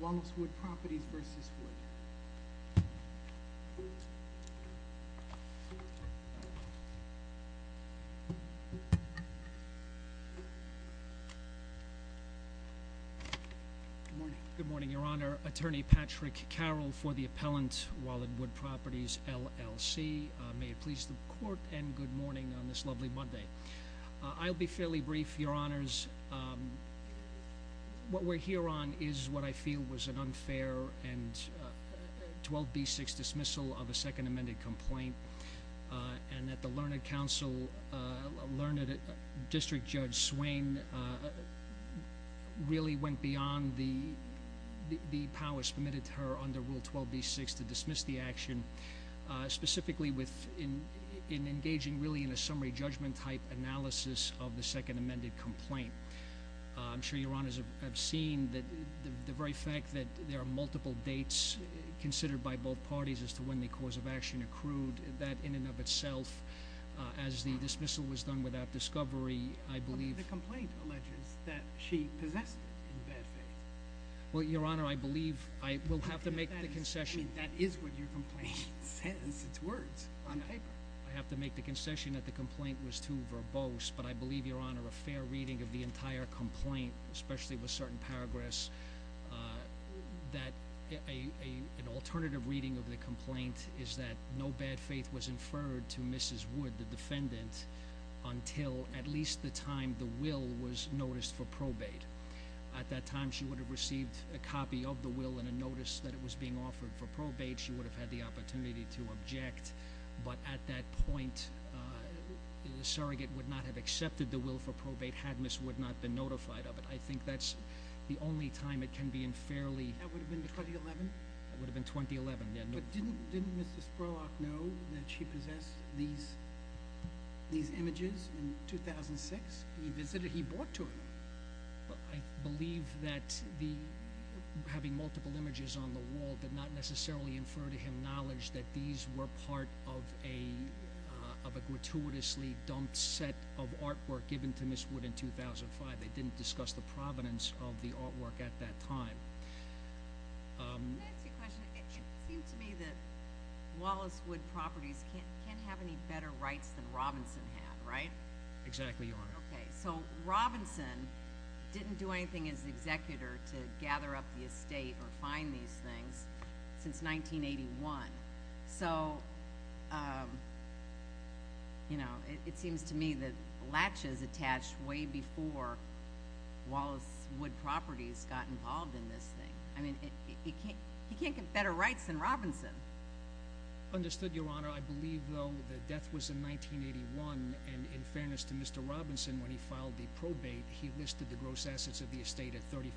Wallace Wood Properties v. Wood Good morning, Your Honor. Attorney Patrick Carroll for the appellant, Wallace Wood Properties, LLC. May it please the court and good morning on this is what I feel was an unfair and 12b6 dismissal of a second amended complaint. And that the Learned Council, Learned District Judge Swain really went beyond the powers permitted to her under Rule 12b6 to dismiss the action, specifically with in engaging really in a summary judgment type analysis of the second amended complaint. I'm sure Your Honors have seen that the very fact that there are multiple dates considered by both parties as to when the cause of action accrued that in and of itself as the dismissal was done without discovery, I believe the complaint alleges that she possessed. Well, Your Honor, I believe I will have to make the concession. That is what your complaint says. It's words on paper. I have to make the concession that the complaint was too verbose, but I believe Your Honor, a fair reading of the entire complaint, especially with certain paragraphs, that an alternative reading of the complaint is that no bad faith was inferred to Mrs. Wood, the defendant, until at least the time the will was noticed for probate. At that time, she would have received a copy of the will and a notice that it was being offered for probate. She would have had the opportunity to object. But at that point, the surrogate would not have accepted the will for probate, had Mrs. Wood not been notified of it. I think that's the only time it can be unfairly... That would have been 2011? That would have been 2011. But didn't Mr. Spurlock know that she possessed these images in 2006? He visited, he brought to her. I believe that having multiple images on the wall did not necessarily infer to him the knowledge that these were part of a gratuitously dumped set of artwork given to Mrs. Wood in 2005. They didn't discuss the provenance of the artwork at that time. Can I ask you a question? It seems to me that Wallace Wood Properties can't have any better rights than Robinson had, right? Exactly, Your Honor. Okay, so Robinson didn't do anything as the probate was in 1981. So, you know, it seems to me that latches attached way before Wallace Wood Properties got involved in this thing. I mean, he can't get better rights than Robinson. Understood, Your Honor. I believe, though, that death was in 1981, and in fairness to Mr. Robinson, when he filed the probate, he listed the gross assets of the estate at $35,000.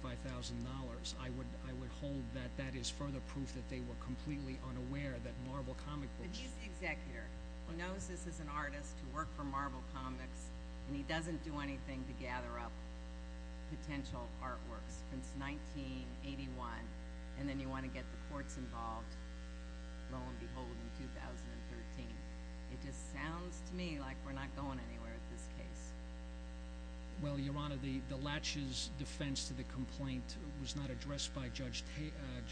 I would hold that that is further proof that they were completely unaware that Marvel Comics was... But he's the executor. He knows this is an artist who worked for Marvel Comics, and he doesn't do anything to gather up potential artworks since 1981, and then you want to get the courts involved, lo and behold, in 2013. It just sounds to me like we're not going anywhere with this case. Well, Your Honor, the latches defense to the complaint was not addressed by Judge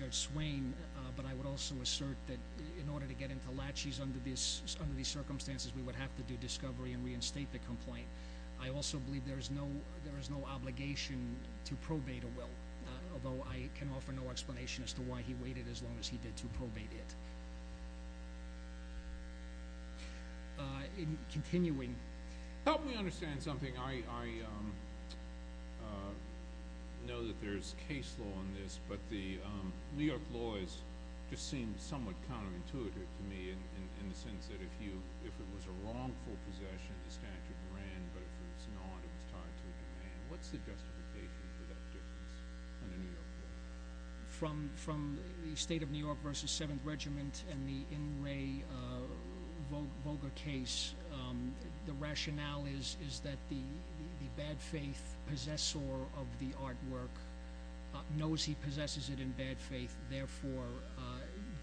Swain, but I would also assert that in order to get into latches under these circumstances, we would have to do discovery and reinstate the complaint. I also believe there is no obligation to probate a will, although I can offer no explanation as to why he waited as long as he did to probate it. Help me understand something. I know that there's case law on this, but the New York law just seems somewhat counterintuitive to me in the sense that if it was a wrongful possession, the statute ran, but if it was not, it was tied to a demand. What's the justification for that difference on a New York law? From the State of New York v. 7th Regiment and the N. Ray Volga case, the rationale is that the bad faith possessor of the artwork knows he possesses it in bad faith, therefore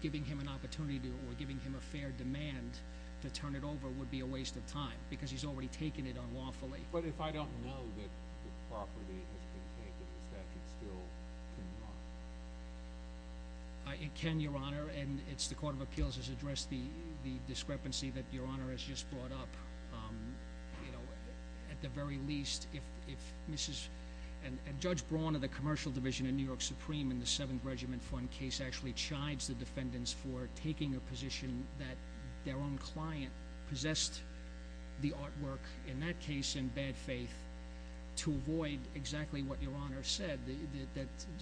giving him an opportunity or giving him a fair demand to turn it over would be a waste of time because he's already taken it unlawfully. But if I don't know that the property has been taken, is that still in your honor? It can, Your Honor, and the Court of Appeals has addressed the discrepancy that Your Honor has just brought up. At the very least, if Judge Braun of the Commercial Division in New York Supreme in the 7th Regiment case actually chides the defendants for taking a position that their own client possessed the artwork, in that case in bad faith, to avoid exactly what Your Honor said,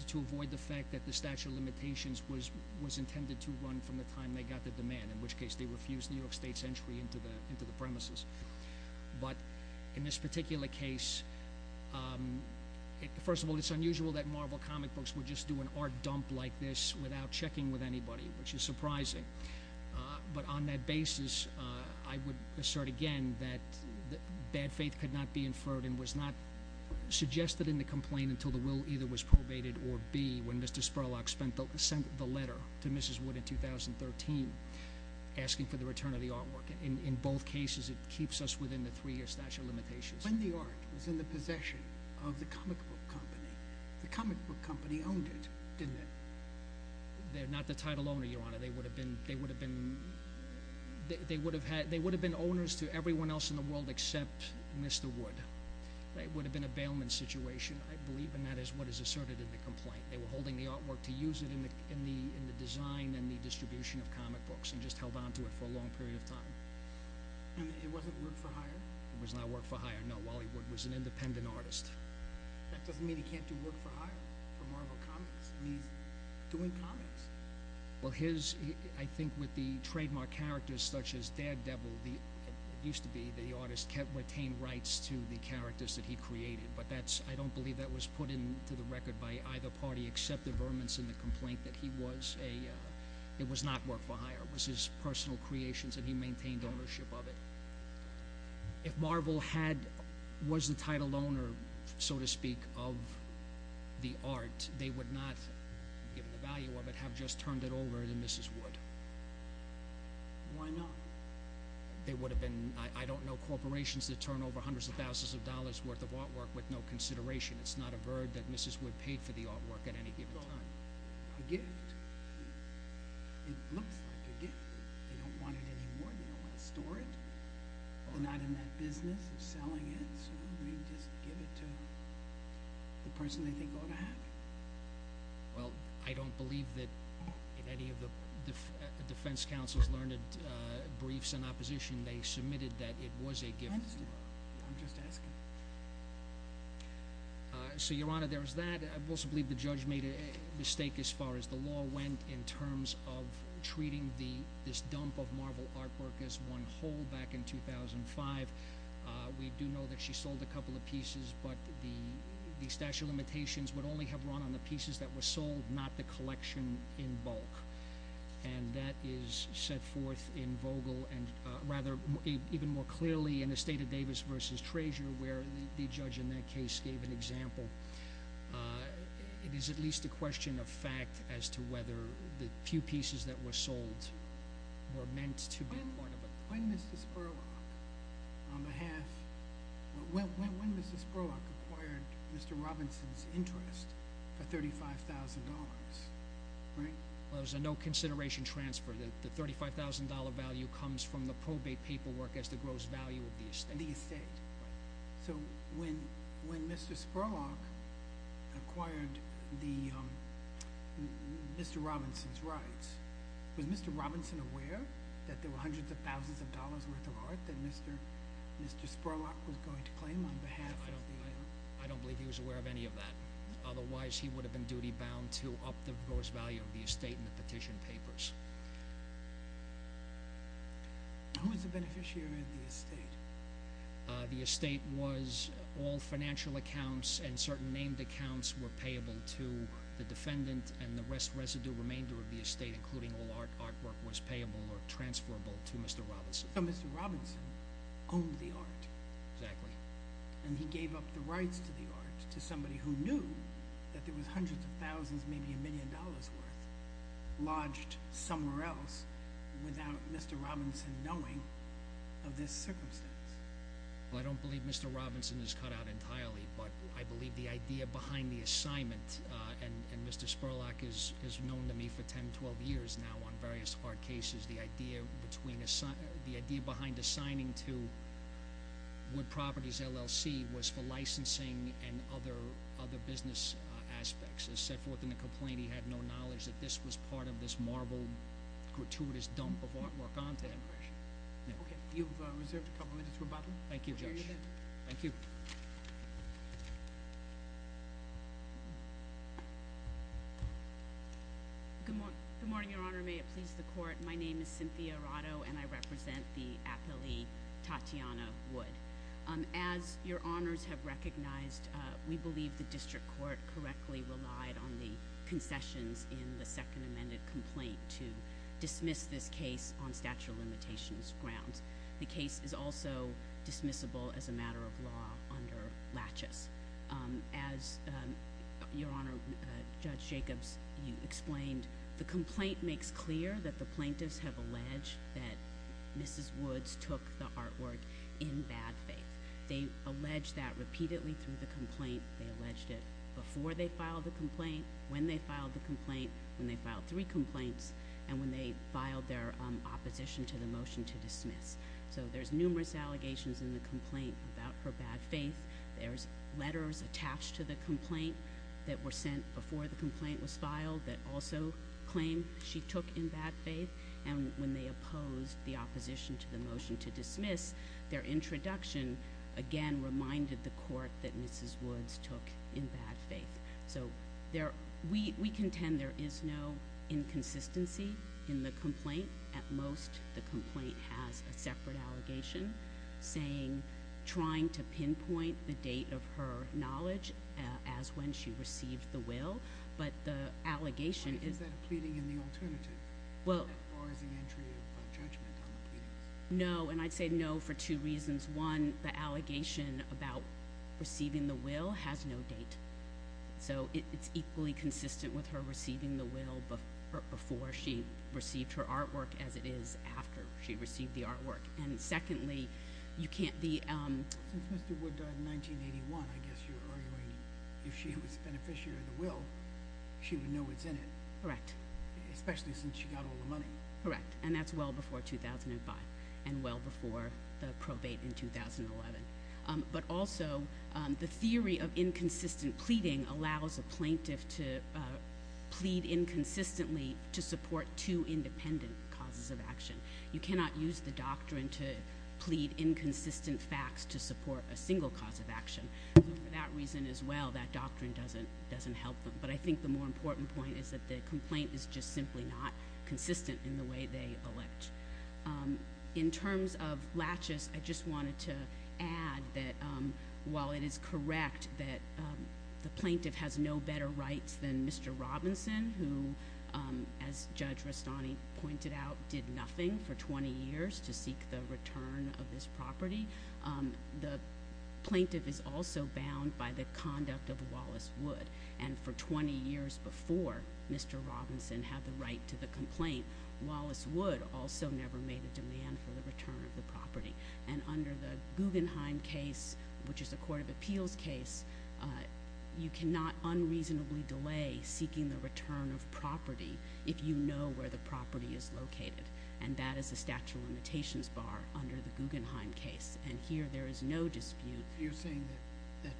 to avoid the fact that the statute of limitations was intended to run from the time they got the demand, in which case they refused New York State's entry into the premises. But in this particular case, first of all, it's unusual that Marvel comic books would just do an art dump like this without checking with anybody, which is surprising. But on that basis, I would assert again that bad faith could not be inferred and was not suggested in the complaint until the will either was probated or B, when Mr. Spurlock sent the letter to Mrs. Wood in 2013 asking for the return of the artwork. In both cases, it keeps us within the three-year statute of limitations. When the art was in the possession of the comic book company, the comic book company owned it, didn't it? They're not the title owner, Your Honor. They would have been owners to everyone else in the world except Mr. Wood. It would have been a bailment situation, I believe, and that is what is asserted in the complaint. They were holding the artwork to use it in the design and the distribution of comic books and just held on to it for a long period of time. And it wasn't work for hire? It was not work for hire, no. Wally Wood was an independent artist. That doesn't mean he can't do work for hire for Marvel Comics. I mean, he's doing comics. Well, I think with the trademark characters such as Daredevil, it used to be that the artist retained rights to the characters that he created, but I don't believe that was put into the record by either party except the Vermin's in the complaint that it was not work for hire. It was his personal creations and he maintained ownership of it. If Marvel was the title owner, so to speak, of the art, they would not, given the value of it, have just turned it over to Mrs. Wood. Why not? There would have been, I don't know, corporations that turn over hundreds of thousands of dollars worth of artwork with no consideration. It's not a verb that Mrs. Wood paid for the artwork at any given time. A gift. It looks like a gift. They don't want it anymore. They don't want to store it. They're not in that business of selling it, so maybe just give it to the person they think ought to have it. Well, I don't believe that any of the defense counsels learned briefs in opposition. They submitted that it was a gift. I understand. I'm just asking. So, Your Honor, there's that. I also believe the judge made a mistake as far as the law went in terms of treating this dump of Marvel artwork as one whole back in 2005. We do know that she sold a couple of pieces, but the statute of limitations would only have run on the pieces that were sold, not the collection in bulk, and that is set forth in Vogel and rather even more clearly in the State of Davis v. Treasurer where the judge in that case gave an example. It is at least a question of fact as to whether the few pieces that were sold were meant to be part of it. When Mrs. Spurlock acquired Mr. Robinson's interest for $35,000, right? It was a no-consideration transfer. The $35,000 value comes from the probate paperwork as the gross value of the estate. The estate. Right. So, when Mr. Spurlock acquired Mr. Robinson's rights, was Mr. Robinson aware that there were hundreds of thousands of dollars worth of art that Mr. Spurlock was going to claim on behalf of the island? I don't believe he was aware of any of that. Otherwise, he would have been duty-bound to up the gross value of the estate in the petition papers. Who was the beneficiary of the estate? The estate was all financial accounts and certain named accounts were payable to the defendant and the rest residue remainder of the estate including all artwork was payable or transferable to Mr. Robinson. So, Mr. Robinson owned the art. Exactly. And he gave up the rights to the art to somebody who knew that there were hundreds of thousands maybe a million dollars worth lodged somewhere else without Mr. Robinson knowing of this circumstance. Well, I don't believe Mr. Robinson is cut out entirely, but I believe the idea behind the assignment and Mr. Spurlock is known to me for 10-12 years now on various art cases. The idea behind assigning to Wood Properties LLC was for licensing and other business aspects as set forth in the complaint. He had no knowledge that this was part of this marble gratuitous dump of artwork onto him. Okay. You've reserved a couple of minutes for rebuttal. Thank you, Judge. We'll hear you then. Thank you. Good morning, Your Honor. May it please the court. My name is Cynthia Arado and I represent the Apele Tatiana Wood. As Your Honors have recognized, we believe the district court correctly relied on the concessions in the second amended complaint to dismiss this case on statute of limitations grounds. The case is also dismissible as a matter of law under laches. As Your Honor, Judge Jacobs, you explained, the complaint makes clear that the plaintiffs have alleged that Mrs. Woods took the artwork in bad faith. They alleged that repeatedly through the complaint. They alleged it before they filed the complaint, when they filed the complaint, when they filed three complaints, and when they filed their opposition to the motion to dismiss. So there's numerous allegations in the complaint about her bad faith. There's letters attached to the complaint that were sent before the complaint was filed that also claim she took in bad faith. And when they opposed the opposition to the motion to dismiss, their introduction, again, reminded the court that Mrs. Woods took in bad faith. So we contend there is no inconsistency in the complaint. At most, the complaint has a separate allegation saying, trying to pinpoint the date of her as when she received the will. But the allegation is... Is that a pleading in the alternative? Well... As far as the entry of judgment on the pleadings? No, and I'd say no for two reasons. One, the allegation about receiving the will has no date. So it's equally consistent with her receiving the will before she received her artwork as it is after she received the artwork. And secondly, you can't be... Since Mr. Wood died in 1981, I guess you're arguing if she was a beneficiary of the will, she would know what's in it. Correct. Especially since she got all the money. Correct, and that's well before 2005 and well before the probate in 2011. But also, the theory of inconsistent pleading allows a plaintiff to plead inconsistently to support two independent causes of action. You cannot use the doctrine to plead inconsistent facts to support a single cause of action. So for that reason as well, that doctrine doesn't help them. But I think the more important point is that the complaint is just simply not consistent in the way they elect. In terms of laches, I just wanted to add that while it is correct that the plaintiff has no better rights than Mr. Robinson, who, as Judge Rastani pointed out, did nothing for 20 years to seek the return of this property, the plaintiff is also bound by the conduct of Wallace Wood. And for 20 years before Mr. Robinson had the right to the complaint, Wallace Wood also never made a demand for the return of the property. And under the Guggenheim case, which is a court of appeals case, you cannot unreasonably delay seeking the return of property if you know where the property is located. And that is a statute of limitations bar under the Guggenheim case. And here there is no dispute. You're saying that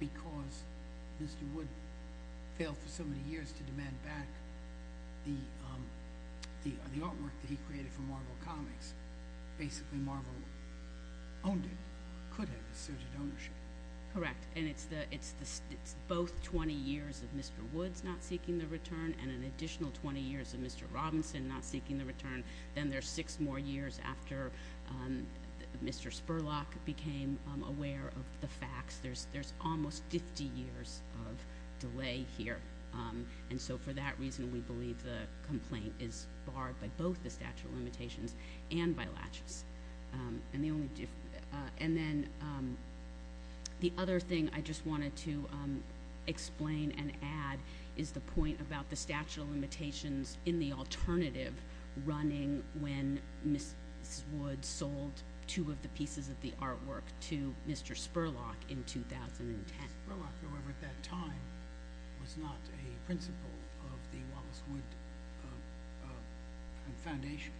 because Mr. Wood failed for so many years to demand back the artwork that he created for Marvel Comics, basically Marvel owned it, could have assumed the ownership. Correct. And it's both 20 years of Mr. Woods not seeking the return and an additional 20 years of Mr. Robinson not seeking the return. Then there's six more years after Mr. Spurlock became aware of the facts. There's almost 50 years of delay here. And so for that reason, we believe the complaint is barred by both the statute of limitations and by laches. And then the other thing I just wanted to explain and add is the point about the statute of limitations in the alternative running when Ms. Woods sold two of the pieces of the artwork to Mr. Spurlock in 2010. Ms. Spurlock, however, at that time was not a principal of the Wallace Wood Foundation.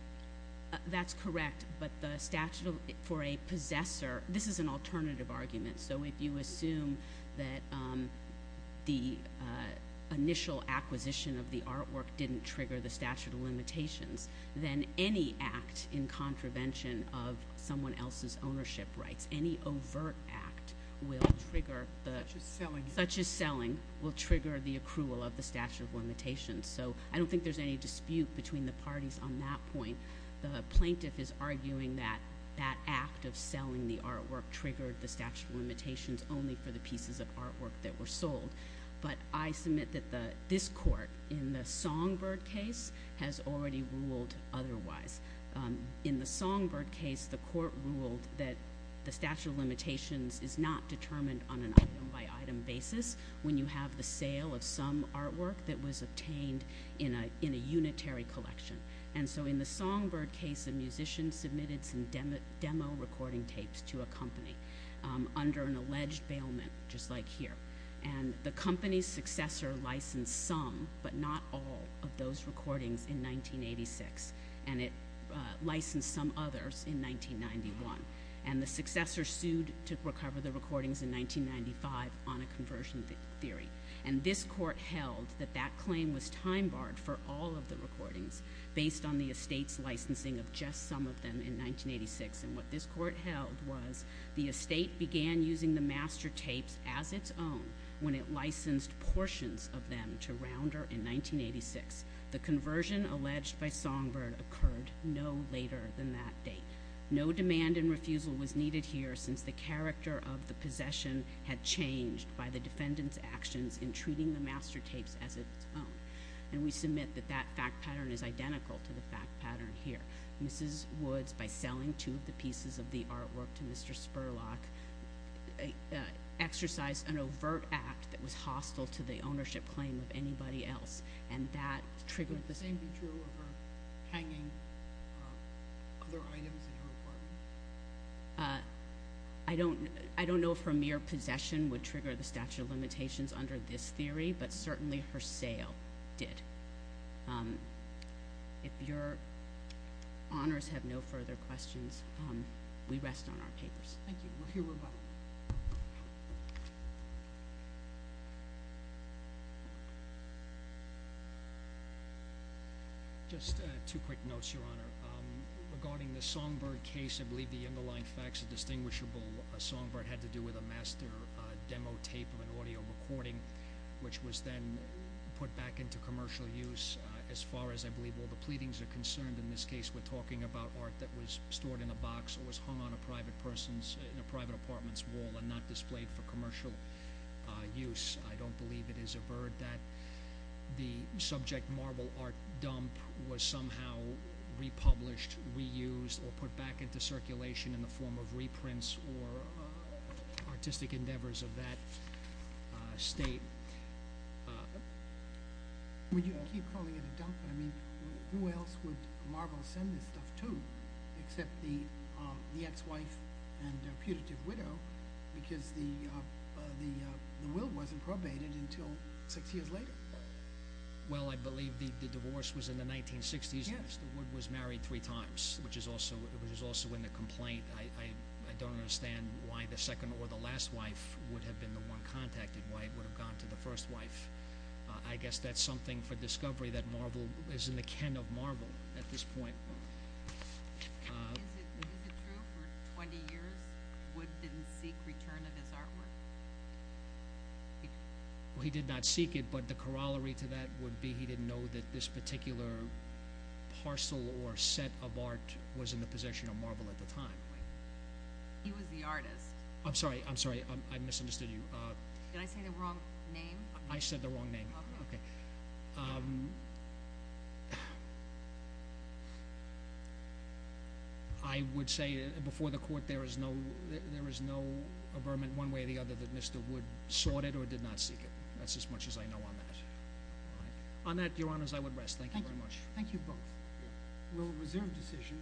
That's correct. But the statute for a possessor, this is an alternative argument. So if you assume that the initial acquisition of the artwork didn't trigger the statute of limitations, then any act in contravention of someone else's ownership rights, any overt act will trigger the— Such as selling. Such as selling will trigger the accrual of the statute of limitations. So I don't think there's any dispute between the parties on that point. The plaintiff is arguing that that act of selling the artwork triggered the statute of limitations only for the pieces of artwork that were sold. But I submit that this court in the Songbird case has already ruled otherwise. In the Songbird case, the court ruled that the statute of limitations is not determined on an item-by-item basis when you have the sale of some artwork that was obtained in a unitary collection. And so in the Songbird case, a musician submitted some demo recording tapes to a company under an alleged bailment, just like here. And the company's successor licensed some, but not all, of those recordings in 1986. And it licensed some others in 1991. And the successor sued to recover the recordings in 1995 on a conversion theory. And this court held that that claim was time-barred for all of the recordings based on the estate's licensing of just some of them in 1986. And what this court held was the estate began using the master tapes as its own when it licensed portions of them to Rounder in 1986. The conversion alleged by Songbird occurred no later than that date. No demand and refusal was needed here since the character of the possession had changed by the defendant's actions in treating the master tapes as its own. And we submit that that fact pattern is identical to the fact pattern here. Mrs. Woods, by selling two of the pieces of the artwork to Mr. Spurlock, exercised an overt act that was hostile to the ownership claim of anybody else. And that triggered the sale. Would the same be true of her hanging other items in her apartment? I don't know if her mere possession would trigger the statute of limitations under this theory, but certainly her sale did. If your honors have no further questions, we rest on our papers. Thank you. We'll hear from you. Just two quick notes, your honor. Regarding the Songbird case, I believe the underlying facts are distinguishable. Songbird had to do with a master demo tape of an audio recording, which was then put back into commercial use. As far as I believe all the pleadings are concerned in this case, we're talking about art that was stored in a box or was hung on a private person's, in a private apartment's wall and not displayed for commercial use. I don't believe it is averred that the subject marble art dump was somehow republished, reused, or put back into circulation in the form of reprints or artistic endeavors of that state. You keep calling it a dump. I mean, who else would marble send this stuff to except the ex-wife and putative widow? Because the will wasn't probated until six years later. Well, I believe the divorce was in the 1960s. Yes. The wood was married three times, which is also in the complaint. I don't understand why the second or the last wife would have been the one contacted, why it would have gone to the first wife. I guess that's something for discovery that marble is in the ken of marble at this point. Is it true for 20 years wood didn't sell? Did he seek return of his artwork? He did not seek it, but the corollary to that would be he didn't know that this particular parcel or set of art was in the possession of marble at the time. He was the artist. I'm sorry. I'm sorry. I misunderstood you. Did I say the wrong name? I said the wrong name. Okay. Okay. I would say before the court there is no averment one way or the other that Mr. Wood sought it or did not seek it. That's as much as I know on that. On that, your honors, I would rest. Thank you very much. Thank you both. We'll reserve decision.